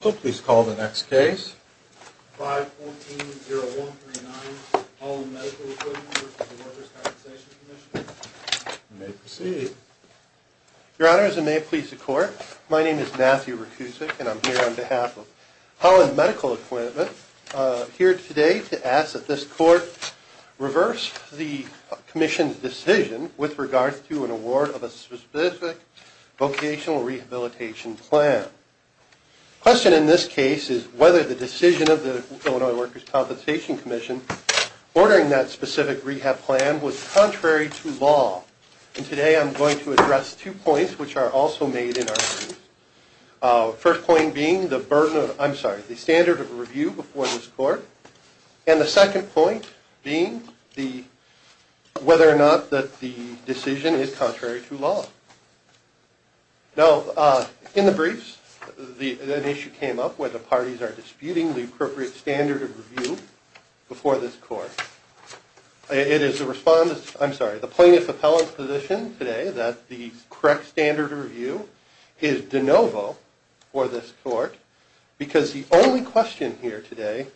Please call the next case. 514-0139, Holland Medical Equipment v. Workers' Compensation Comm'n. You may proceed. Your Honor, as I may please the Court, my name is Matthew Rukusik and I'm here on behalf of Holland Medical Equipment here today to ask that this Court reverse the Commission's decision with regard to an award of a specific vocational rehabilitation plan. The question in this case is whether the decision of the Illinois Workers' Compensation Commission ordering that specific rehab plan was contrary to law. And today I'm going to address two points which are also made in our case. The first point being the standard of review before this Court and the second point being whether or not the decision is contrary to law. Now, in the briefs, an issue came up where the parties are disputing the appropriate standard of review before this Court. It is the plaintiff's appellant's position today that the correct standard of review is de novo for this Court because the only question here today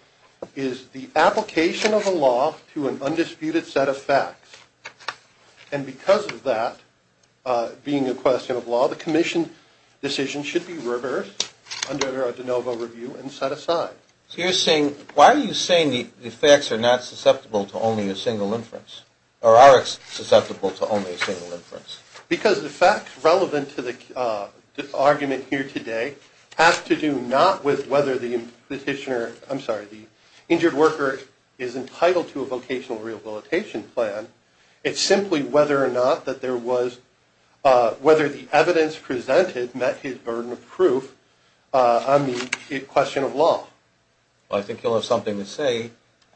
is the application of the law to an undisputed set of facts. And because of that being a question of law, the Commission decision should be reversed under a de novo review and set aside. So you're saying, why are you saying the facts are not susceptible to only a single inference or are susceptible to only a single inference? Because the facts relevant to the argument here today have to do not with whether the petitioner, I'm sorry, the injured worker is entitled to a vocational rehabilitation plan. It's simply whether or not that there was – whether the evidence presented met his burden of proof on the question of law. Well, I think you'll have something to say.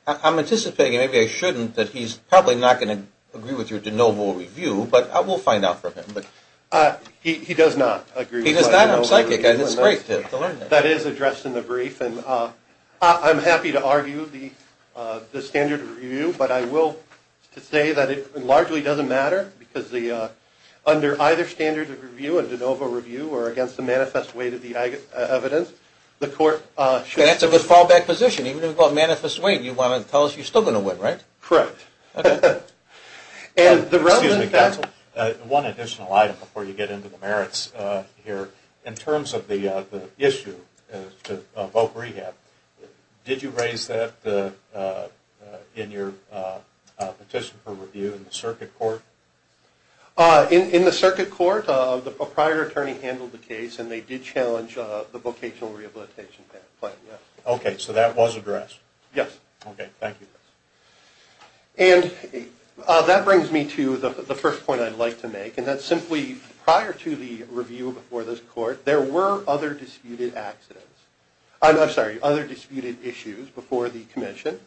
I'm anticipating, and maybe I shouldn't, that he's probably not going to agree with your de novo review, but we'll find out from him. He does not agree. He does not? I'm psychic, and it's great to learn that. That is addressed in the brief, and I'm happy to argue the standard of review, but I will say that it largely doesn't matter because under either standard of review, a de novo review, or against the manifest weight of the evidence, the court should – That's a good fallback position. Even if it's about manifest weight, you want to tell us you're still going to win, right? Correct. Excuse me, counsel. One additional item before you get into the merits here. In terms of the issue of voc rehab, did you raise that in your petition for review in the circuit court? In the circuit court, the proprietary attorney handled the case, and they did challenge the vocational rehabilitation plan, yes. Okay, so that was addressed? Yes. Okay, thank you. And that brings me to the first point I'd like to make, and that's simply prior to the review before this court, there were other disputed accidents. I'm sorry, other disputed issues before the commission.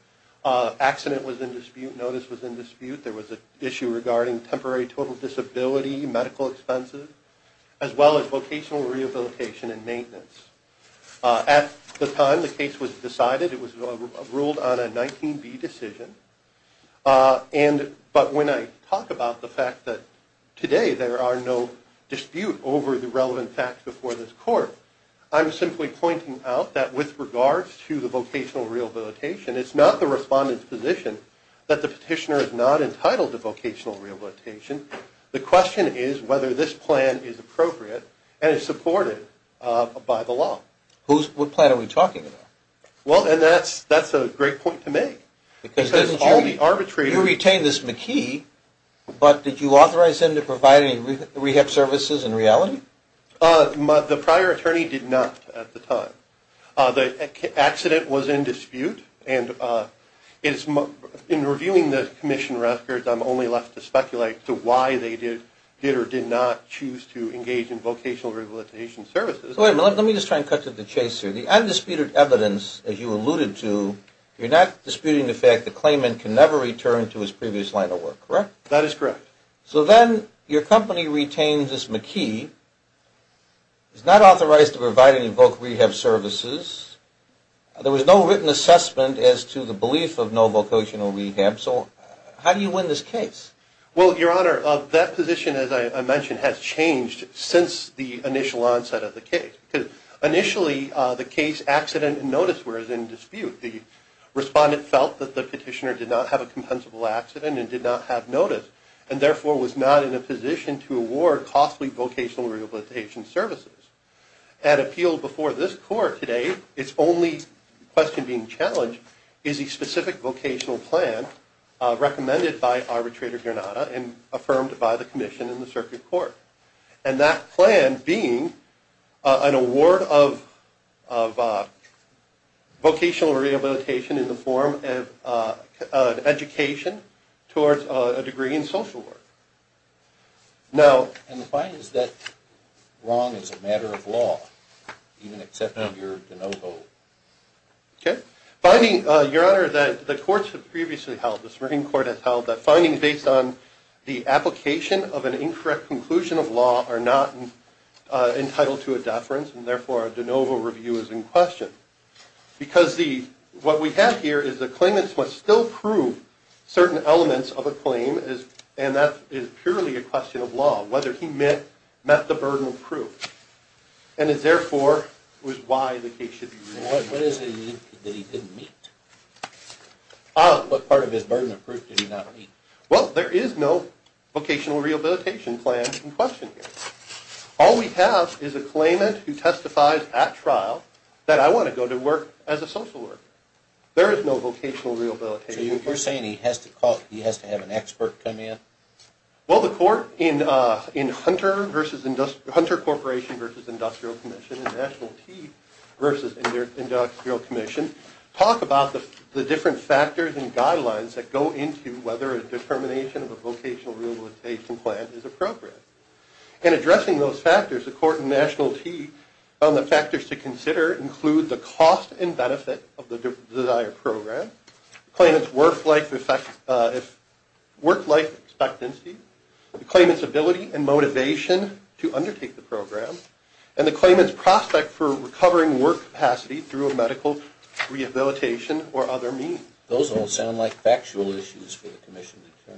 Accident was in dispute, notice was in dispute, there was an issue regarding temporary total disability, medical expenses, as well as vocational rehabilitation and maintenance. At the time the case was decided, it was ruled on a 19B decision, but when I talk about the fact that today there are no dispute over the relevant facts before this court, I'm simply pointing out that with regards to the vocational rehabilitation, it's not the respondent's position that the petitioner is not entitled to vocational rehabilitation. The question is whether this plan is appropriate and is supported by the law. What plan are we talking about? Well, and that's a great point to make. Because there's all the arbitration. You retained this McKee, but did you authorize him to provide any rehab services in reality? The prior attorney did not at the time. The accident was in dispute, and in reviewing the commission records, I'm only left to speculate to why they did or did not choose to engage in vocational rehabilitation services. Let me just try and cut to the chase here. The undisputed evidence, as you alluded to, you're not disputing the fact the claimant can never return to his previous line of work, correct? That is correct. So then your company retains this McKee, is not authorized to provide any voc rehab services, there was no written assessment as to the belief of no vocational rehab, and so on. How do you win this case? Well, Your Honor, that position, as I mentioned, has changed since the initial onset of the case. Initially, the case accident and notice were in dispute. The respondent felt that the petitioner did not have a compensable accident and did not have notice, and therefore was not in a position to award costly vocational rehabilitation services. At appeal before this court today, its only question being challenged is a specific vocational plan recommended by arbitrator Granada and affirmed by the commission in the circuit court. And that plan being an award of vocational rehabilitation in the form of education towards a degree in social work. Now... And why is that wrong as a matter of law? Even accepting your de novo... Okay. Finding, Your Honor, that the courts have previously held, the Supreme Court has held, that findings based on the application of an incorrect conclusion of law are not entitled to a deference, and therefore a de novo review is in question. Because what we have here is the claimants must still prove certain elements of a claim, and that is purely a question of law, whether he met the burden of proof. And it therefore was why the case should be reviewed. What is it that he didn't meet? What part of his burden of proof did he not meet? Well, there is no vocational rehabilitation plan in question here. All we have is a claimant who testifies at trial that I want to go to work as a social worker. There is no vocational rehabilitation plan. So you're saying he has to have an expert come in? Well, the court in Hunter Corporation v. Industrial Commission, in National T versus Industrial Commission, talk about the different factors and guidelines that go into whether a determination of a vocational rehabilitation plan is appropriate. In addressing those factors, the court in National T found the factors to consider include the cost and benefit of the desired program, the claimant's work-life expectancy, the claimant's ability and motivation to undertake the program, and the claimant's prospect for recovering work capacity through a medical rehabilitation or other means. Those don't sound like factual issues for the commission to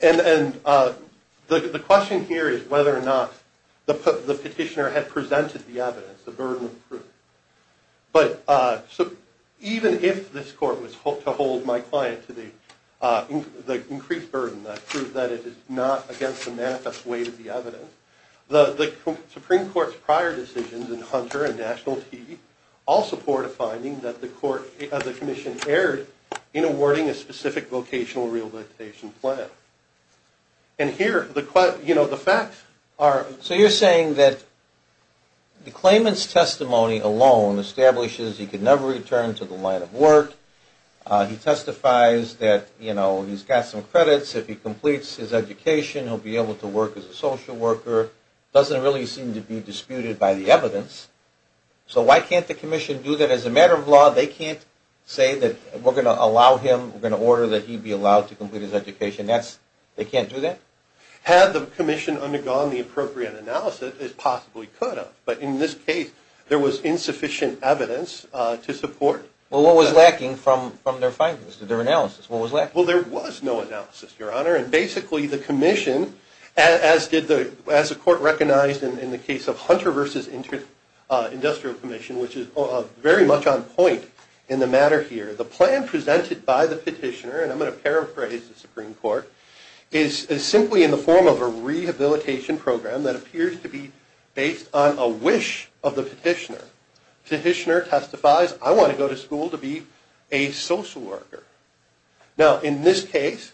determine. Right. And the question here is whether or not the petitioner had presented the evidence, the burden of proof. But even if this court was to hold my client to the increased burden that proved that it is not against the manifest weight of the evidence, the Supreme Court's prior decisions in Hunter and National T all support a finding that the commission erred in awarding a specific vocational rehabilitation plan. And here, you know, the facts are... So you're saying that the claimant's testimony alone establishes he could never return to the line of work. He testifies that, you know, he's got some credits. If he completes his education, he'll be able to work as a social worker. So why can't the commission do that as a matter of law? They can't say that we're going to allow him, we're going to order that he be allowed to complete his education. They can't do that? Had the commission undergone the appropriate analysis, it possibly could have. But in this case, there was insufficient evidence to support... Well, what was lacking from their findings, their analysis? What was lacking? Well, there was no analysis, Your Honor. And basically, the commission, as the court recognized in the case of Hunter v. Industrial Commission, which is very much on point in the matter here, the plan presented by the petitioner, and I'm going to paraphrase the Supreme Court, is simply in the form of a rehabilitation program that appears to be based on a wish of the petitioner. Petitioner testifies, I want to go to school to be a social worker. Now, in this case,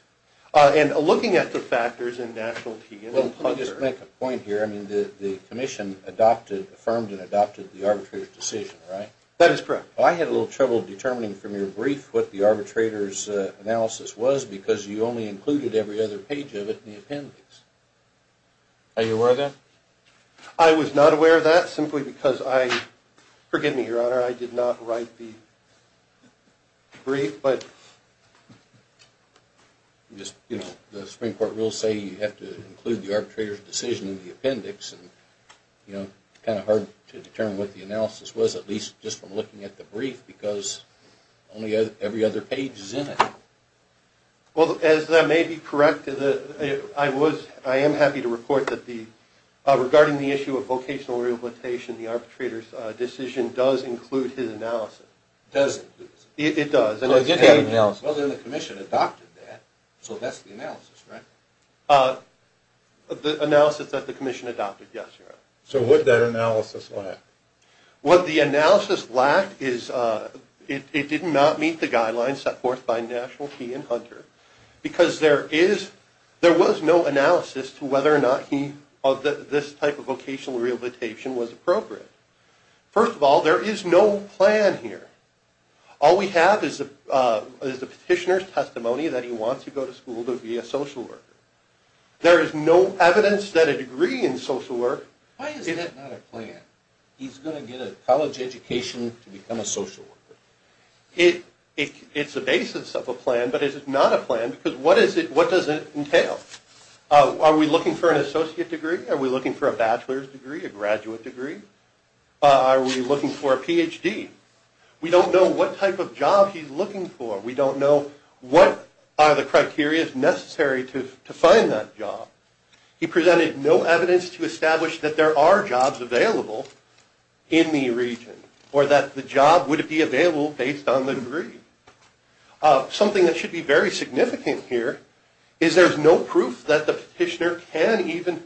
and looking at the factors in national... Well, let me just make a point here. I mean, the commission adopted, affirmed and adopted the arbitrator's decision, right? That is correct. Well, I had a little trouble determining from your brief what the arbitrator's analysis was because you only included every other page of it in the appendix. Are you aware of that? I was not aware of that simply because I... The Supreme Court rules say you have to include the arbitrator's decision in the appendix, and it's kind of hard to determine what the analysis was, at least just from looking at the brief, because only every other page is in it. Well, as that may be correct, I am happy to report that regarding the issue of vocational rehabilitation, the arbitrator's decision does include his analysis. Does it? It does. Well, then the commission adopted that, so that's the analysis, right? The analysis that the commission adopted, yes, Your Honor. So what did that analysis lack? What the analysis lacked is it did not meet the guidelines set forth by National Key and Hunter because there was no analysis to whether or not this type of vocational rehabilitation was appropriate. First of all, there is no plan here. All we have is the petitioner's testimony that he wants to go to school to be a social worker. There is no evidence that a degree in social work... Why is that not a plan? He's going to get a college education to become a social worker. It's the basis of a plan, but it is not a plan because what does it entail? Are we looking for an associate degree? Are we looking for a bachelor's degree, a graduate degree? Are we looking for a Ph.D.? We don't know what type of job he's looking for. We don't know what are the criteria necessary to find that job. He presented no evidence to establish that there are jobs available in the region or that the job would be available based on the degree. Something that should be very significant here is there's no proof that the petitioner can even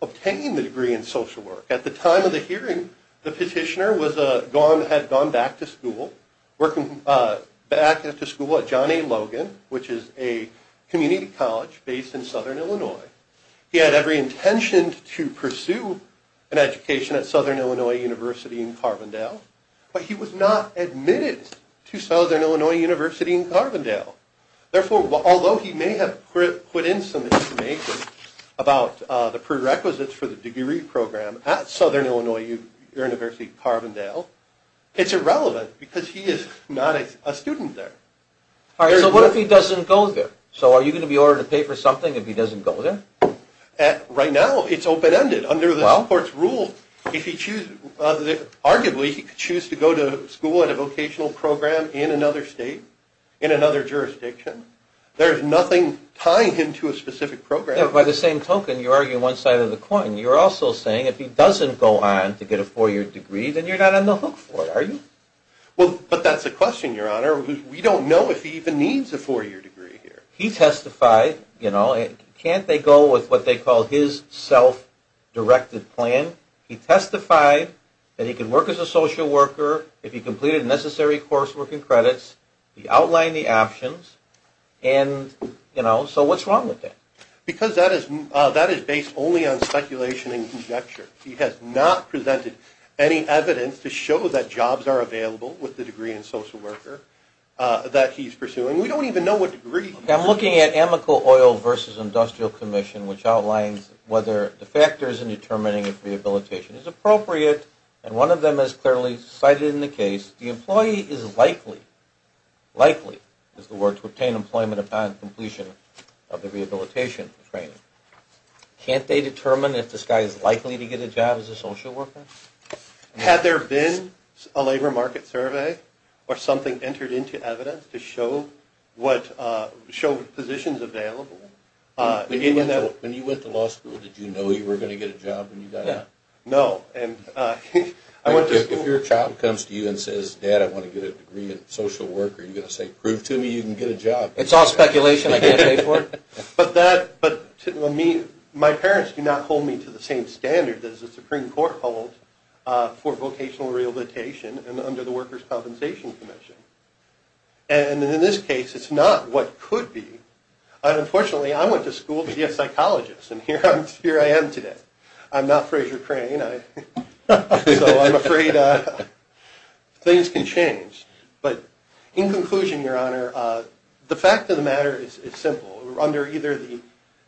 obtain the degree in social work. At the time of the hearing, the petitioner had gone back to school, working back at the school at John A. Logan, which is a community college based in southern Illinois. He had every intention to pursue an education at Southern Illinois University in Carbondale, but he was not admitted to Southern Illinois University in Carbondale. Therefore, although he may have put in some information about the prerequisites for the degree program at Southern Illinois University, Carbondale, it's irrelevant because he is not a student there. All right, so what if he doesn't go there? So are you going to be ordered to pay for something if he doesn't go there? Right now, it's open-ended. Under the Supreme Court's rule, if he chooses, arguably he could choose to go to school at a vocational program in another state, in another jurisdiction. There is nothing tying him to a specific program. By the same token, you're arguing one side of the coin. You're also saying if he doesn't go on to get a four-year degree, then you're not on the hook for it, are you? Well, but that's the question, Your Honor. We don't know if he even needs a four-year degree here. He testified. Can't they go with what they call his self-directed plan? He testified that he could work as a social worker, if he completed the necessary coursework and credits, he outlined the options, and, you know, so what's wrong with that? Because that is based only on speculation and conjecture. He has not presented any evidence to show that jobs are available with the degree in social worker that he's pursuing. We don't even know what degree. I'm looking at Amical Oil v. Industrial Commission, which outlines whether the factors in determining if rehabilitation is appropriate, and one of them is clearly cited in the case. The employee is likely, likely is the word, to obtain employment upon completion of the rehabilitation training. Can't they determine if this guy is likely to get a job as a social worker? Had there been a labor market survey or something entered into evidence to show positions available? When you went to law school, did you know you were going to get a job when you got out? No. If your child comes to you and says, Dad, I want to get a degree in social worker, are you going to say, prove to me you can get a job? It's all speculation. I can't pay for it. But my parents do not hold me to the same standard as the Supreme Court holds for vocational rehabilitation and under the Workers' Compensation Commission. And in this case, it's not what could be. Unfortunately, I went to school to be a psychologist, and here I am today. I'm not Frasier Crane, so I'm afraid things can change. But in conclusion, Your Honor, the fact of the matter is simple. Under either the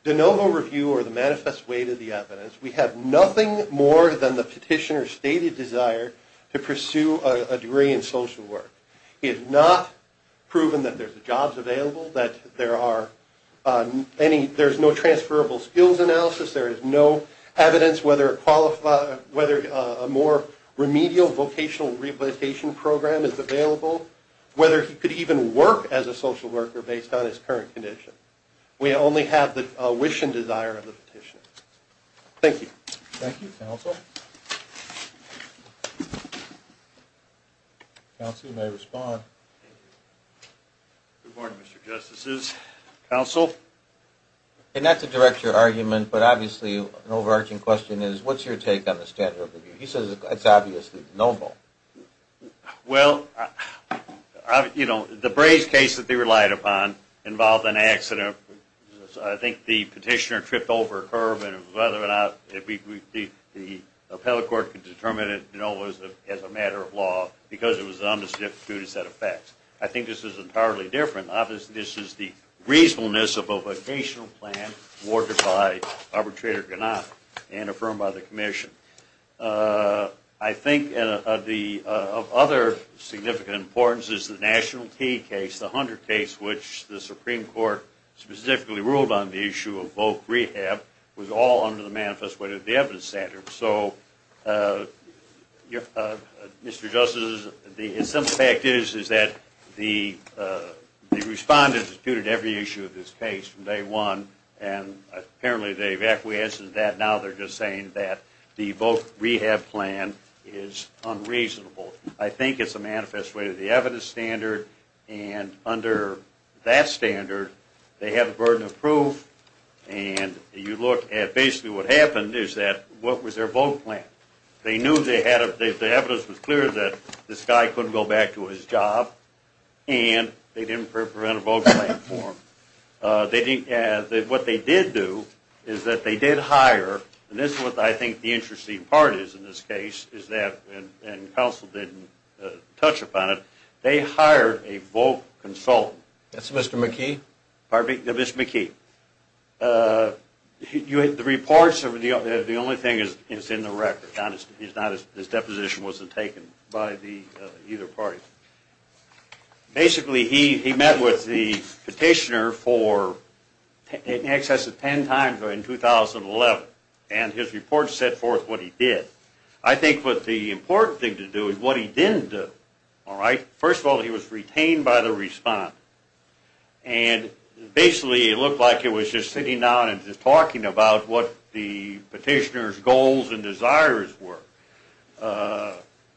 de novo review or the manifest way to the evidence, we have nothing more than the petitioner's stated desire to pursue a degree in social work. He has not proven that there's jobs available, that there's no transferable skills analysis, there is no evidence whether a more remedial vocational rehabilitation program is available, whether he could even work as a social worker based on his current condition. We only have the wish and desire of the petitioner. Thank you. Thank you. Counsel? Counsel, you may respond. Good morning, Mr. Justices. Counsel? And not to direct your argument, but obviously an overarching question is, what's your take on the standard of review? He says it's obviously de novo. Well, you know, the Braves case that they relied upon involved an accident. I think the petitioner tripped over a curb, and whether or not the appellate court could determine it as a matter of law because it was an undisputed set of facts. I think this is entirely different. Obviously, this is the reasonableness of a vocational plan awarded by Arbitrator Ganach and affirmed by the commission. I think of other significant importance is the National Teed case, the Hunter case, which the Supreme Court specifically ruled on the issue of voc rehab was all under the manifest way of the evidence standard. So, Mr. Justices, the simple fact is that the respondents disputed every issue of this case from day one, and apparently they've acquiesced to that. Now they're just saying that the voc rehab plan is unreasonable. I think it's a manifest way of the evidence standard, and under that standard they have a burden of proof. You look at basically what happened is that what was their voc plan? They knew the evidence was clear that this guy couldn't go back to his job, and they didn't prepare a voc plan for him. What they did do is that they did hire, and this is what I think the interesting part is in this case, and counsel didn't touch upon it, they hired a voc consultant. That's Mr. McKee? Mr. McKee. The reports, the only thing is in the record. His deposition wasn't taken by either party. Basically he met with the petitioner in excess of ten times in 2011, and his report set forth what he did. I think what the important thing to do is what he didn't do. First of all, he was retained by the respondent, and basically it looked like he was just sitting down and just talking about what the petitioner's goals and desires were.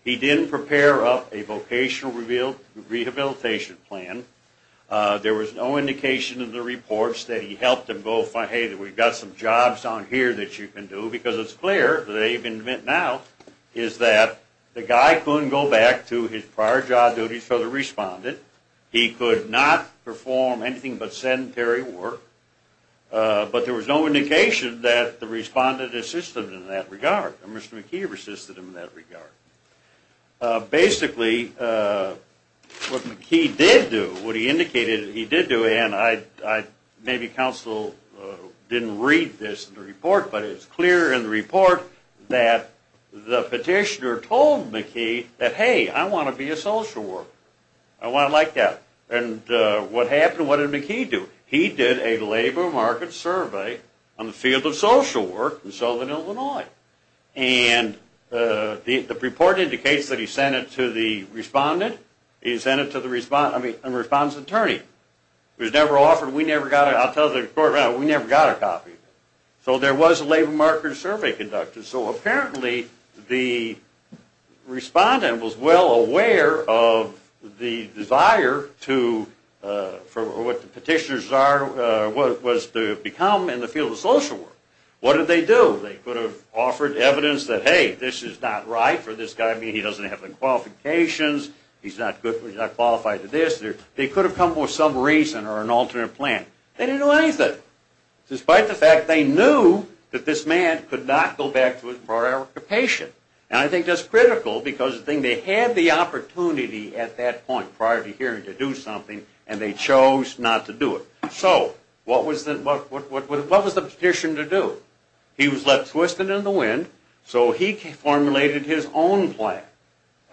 He didn't prepare a vocational rehabilitation plan. There was no indication in the reports that he helped him go find, hey, we've got some jobs down here that you can do, because it's clear that they've invented now, is that the guy couldn't go back to his prior job duties for the respondent. He could not perform anything but sedentary work, but there was no indication that the respondent assisted him in that regard, or Mr. McKee assisted him in that regard. Basically what McKee did do, what he indicated he did do, and maybe counsel didn't read this in the report, but it's clear in the report that the petitioner told McKee that, hey, I want to be a social worker. I want to like that. And what happened? What did McKee do? He did a labor market survey on the field of social work in Southern Illinois, and the report indicates that he sent it to the respondent, he sent it to the respondent's attorney. It was never offered. We never got it. I'll tell the court, we never got a copy. So there was a labor market survey conducted. So apparently the respondent was well aware of the desire to, for what the petitioner's desire was to become in the field of social work. What did they do? They could have offered evidence that, hey, this is not right for this guy. He doesn't have the qualifications. He's not qualified for this. They could have come up with some reason or an alternate plan. They didn't know anything. Despite the fact they knew that this man could not go back to his prior occupation. And I think that's critical because they had the opportunity at that point, prior to hearing to do something, and they chose not to do it. So what was the petition to do? He was left twisted in the wind, so he formulated his own plan.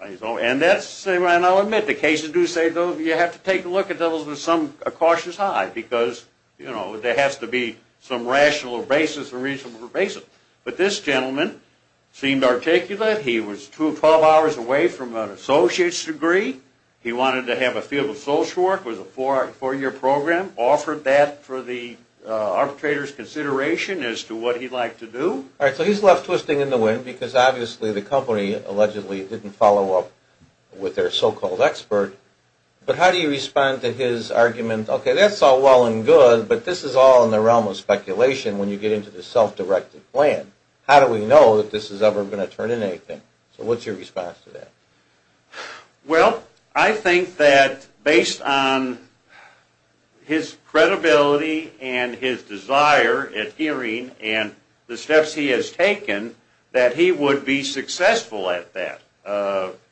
And I'll admit, the cases do say you have to take a look at those with some cautious eye because, you know, there has to be some rational basis or reasonable basis. But this gentleman seemed articulate. He was two and 12 hours away from an associate's degree. He wanted to have a field of social work with a four-year program, offered that for the arbitrator's consideration as to what he'd like to do. All right, so he's left twisting in the wind because, obviously, the company allegedly didn't follow up with their so-called expert. But how do you respond to his argument, okay, that's all well and good, but this is all in the realm of speculation when you get into the self-directed plan. How do we know that this is ever going to turn into anything? So what's your response to that? Well, I think that based on his credibility and his desire at hearing and the steps he has taken, that he would be successful at that.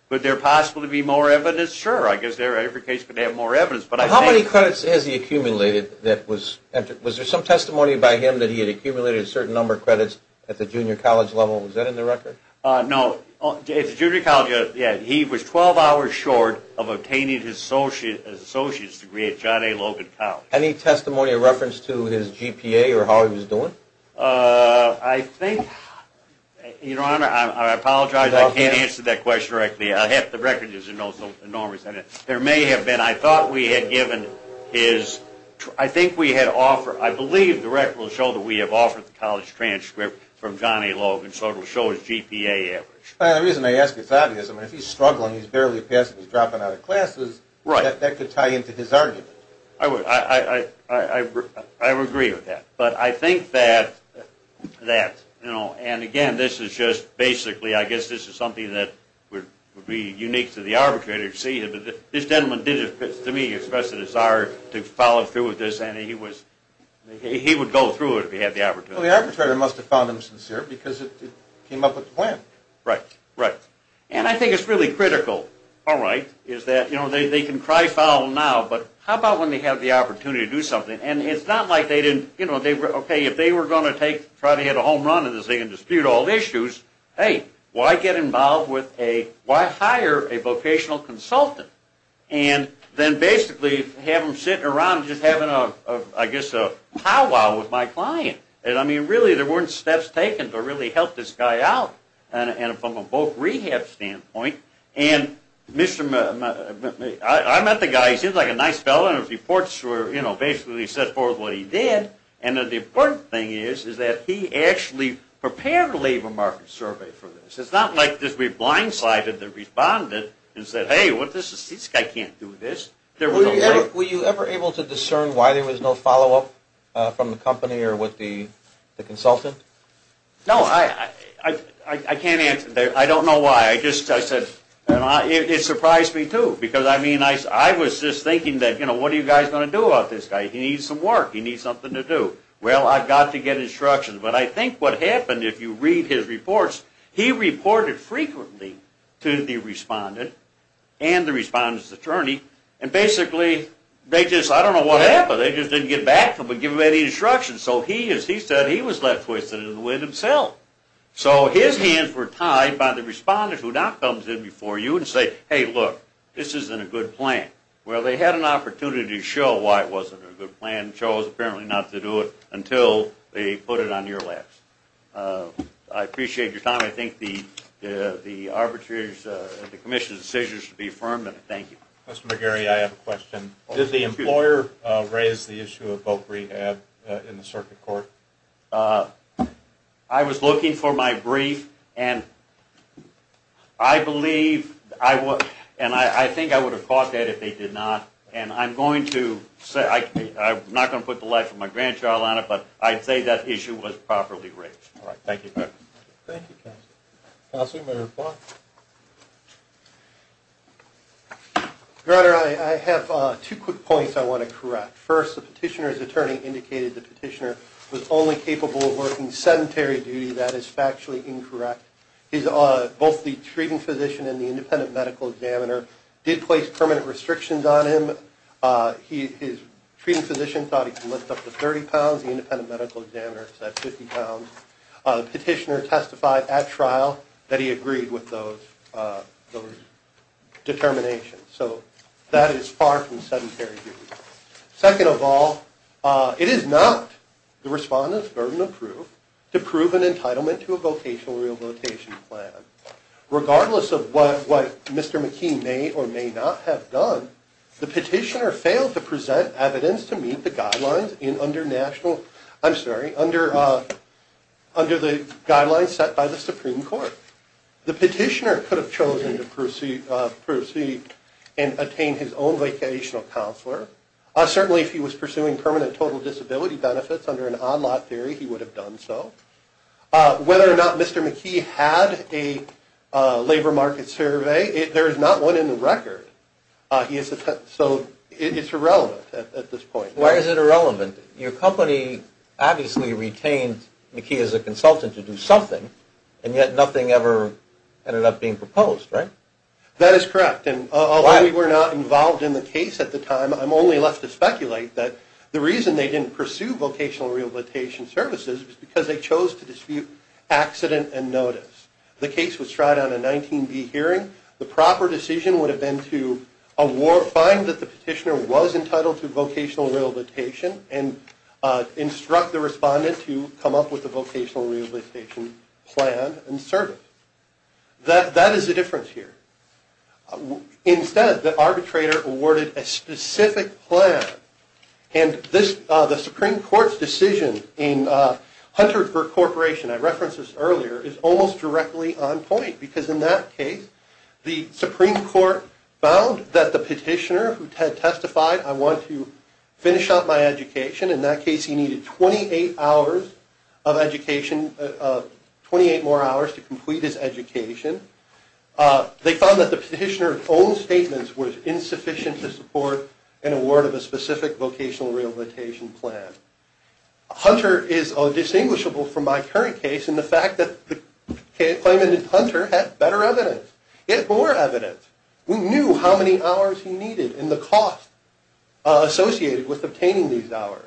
Could there possibly be more evidence? Sure, I guess every case could have more evidence. How many credits has he accumulated? Was there some testimony by him that he had accumulated a certain number of credits at the junior college level? Was that in the record? No, at the junior college, yeah, he was 12 hours short of obtaining his associate's degree at John A. Logan College. Any testimony or reference to his GPA or how he was doing? I think, Your Honor, I apologize, I can't answer that question directly. Half the record is enormous. There may have been, I thought we had given his, I think we had offered, I believe the record will show that we have offered the college transcript from John A. Logan, so it will show his GPA average. The reason I ask is obvious. If he's struggling, he's barely passing, he's dropping out of classes, that could tie into his argument. I would agree with that. But I think that, you know, and again, this is just basically, I guess this is something that would be unique to the arbitrator to see. This gentleman did, to me, express a desire to follow through with this, and he would go through it if he had the opportunity. Well, the arbitrator must have found him sincere because it came up with the plan. Right, right. And I think it's really critical, all right, is that, you know, they can cry foul now, but how about when they have the opportunity to do something? And it's not like they didn't, you know, okay, if they were going to take, try to hit a home run and dispute all issues, hey, why get involved with a, why hire a vocational consultant? And then basically have them sitting around just having a, I guess, a powwow with my client. I mean, really, there weren't steps taken to really help this guy out, and from a both rehab standpoint. And I met the guy, he seemed like a nice fellow, and his reports were, you know, basically he set forth what he did, and the important thing is that he actually prepared a labor market survey for this. It's not like we blindsided the respondent and said, hey, this guy can't do this. Were you ever able to discern why there was no follow-up from the company or with the consultant? No, I can't answer that. I don't know why. It surprised me, too, because, I mean, I was just thinking that, you know, what are you guys going to do about this guy? He needs some work. He needs something to do. Well, I've got to get instructions. But I think what happened, if you read his reports, he reported frequently to the respondent and the respondent's attorney, and basically they just, I don't know what happened, they just didn't get back to him and give him any instructions. So he, as he said, he was left twisted in the wind himself. So his hands were tied by the respondent who now comes in before you and says, hey, look, this isn't a good plan. Well, they had an opportunity to show why it wasn't a good plan and chose apparently not to do it until they put it on your laps. I appreciate your time. I think the arbitrator's and the commission's decision should be affirmed, and thank you. Mr. McGarry, I have a question. Did the employer raise the issue of vote rehab in the circuit court? I was looking for my brief, and I believe, and I think I would have caught that if they did not, and I'm going to say, I'm not going to put the life of my grandchild on it, but I'd say that issue was properly raised. All right, thank you. Thank you, counsel. Counsel, you may reply. Your Honor, I have two quick points I want to correct. First, the petitioner's attorney indicated the petitioner was only capable of working sedentary duty. That is factually incorrect. Both the treating physician and the independent medical examiner did place permanent restrictions on him. His treating physician thought he could lift up to 30 pounds. The independent medical examiner said 50 pounds. The petitioner testified at trial that he agreed with those determinations. So that is far from sedentary duty. Second of all, it is not the respondent's burden of proof to prove an entitlement to a vocational rehabilitation plan. Regardless of what Mr. McKee may or may not have done, the petitioner failed to present evidence to meet the guidelines under national, I'm sorry, under the guidelines set by the Supreme Court. The petitioner could have chosen to proceed and attain his own vocational counselor. Certainly if he was pursuing permanent total disability benefits under an on-lot theory, he would have done so. Whether or not Mr. McKee had a labor market survey, there is not one in the record. So it's irrelevant at this point. Why is it irrelevant? Your company obviously retained McKee as a consultant to do something, and yet nothing ever ended up being proposed, right? That is correct. Although we were not involved in the case at the time, I'm only left to speculate that the reason they didn't pursue vocational rehabilitation services was because they chose to dispute accident and notice. The case was tried on a 19B hearing. The proper decision would have been to find that the petitioner was entitled to vocational rehabilitation and instruct the respondent to come up with a vocational rehabilitation plan and service. That is the difference here. Instead, the arbitrator awarded a specific plan, and the Supreme Court's decision in Hunterford Corporation, I referenced this earlier, is almost directly on point because in that case, the Supreme Court found that the petitioner who had testified, I want to finish up my education, in that case he needed 28 more hours to complete his education. They found that the petitioner's own statements were insufficient to support an award of a specific vocational rehabilitation plan. Hunter is distinguishable from my current case in the fact that the claimant in Hunter had better evidence. He had more evidence. We knew how many hours he needed and the cost associated with obtaining these hours.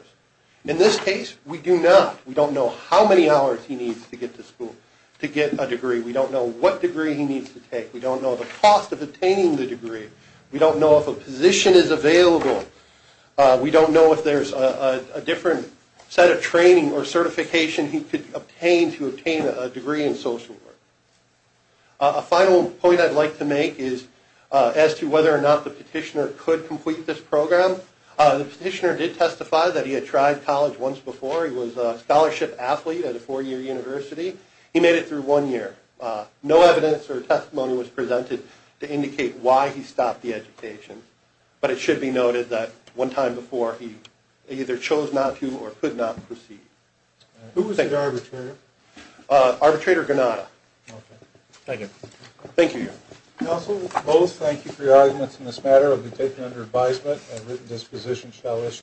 In this case, we do not. We don't know how many hours he needs to get to school to get a degree. We don't know what degree he needs to take. We don't know the cost of obtaining the degree. We don't know if a position is available. We don't know if there's a different set of training or certification he could obtain to obtain a degree in social work. A final point I'd like to make is as to whether or not the petitioner could complete this program. The petitioner did testify that he had tried college once before. He was a scholarship athlete at a four-year university. He made it through one year. No evidence or testimony was presented to indicate why he stopped the education, but it should be noted that one time before, he either chose not to or could not proceed. Who was the arbitrator? Arbitrator Granata. Thank you. Thank you. Counsel, both thank you for your arguments in this matter. It will be taken under advisement. A written disposition shall issue.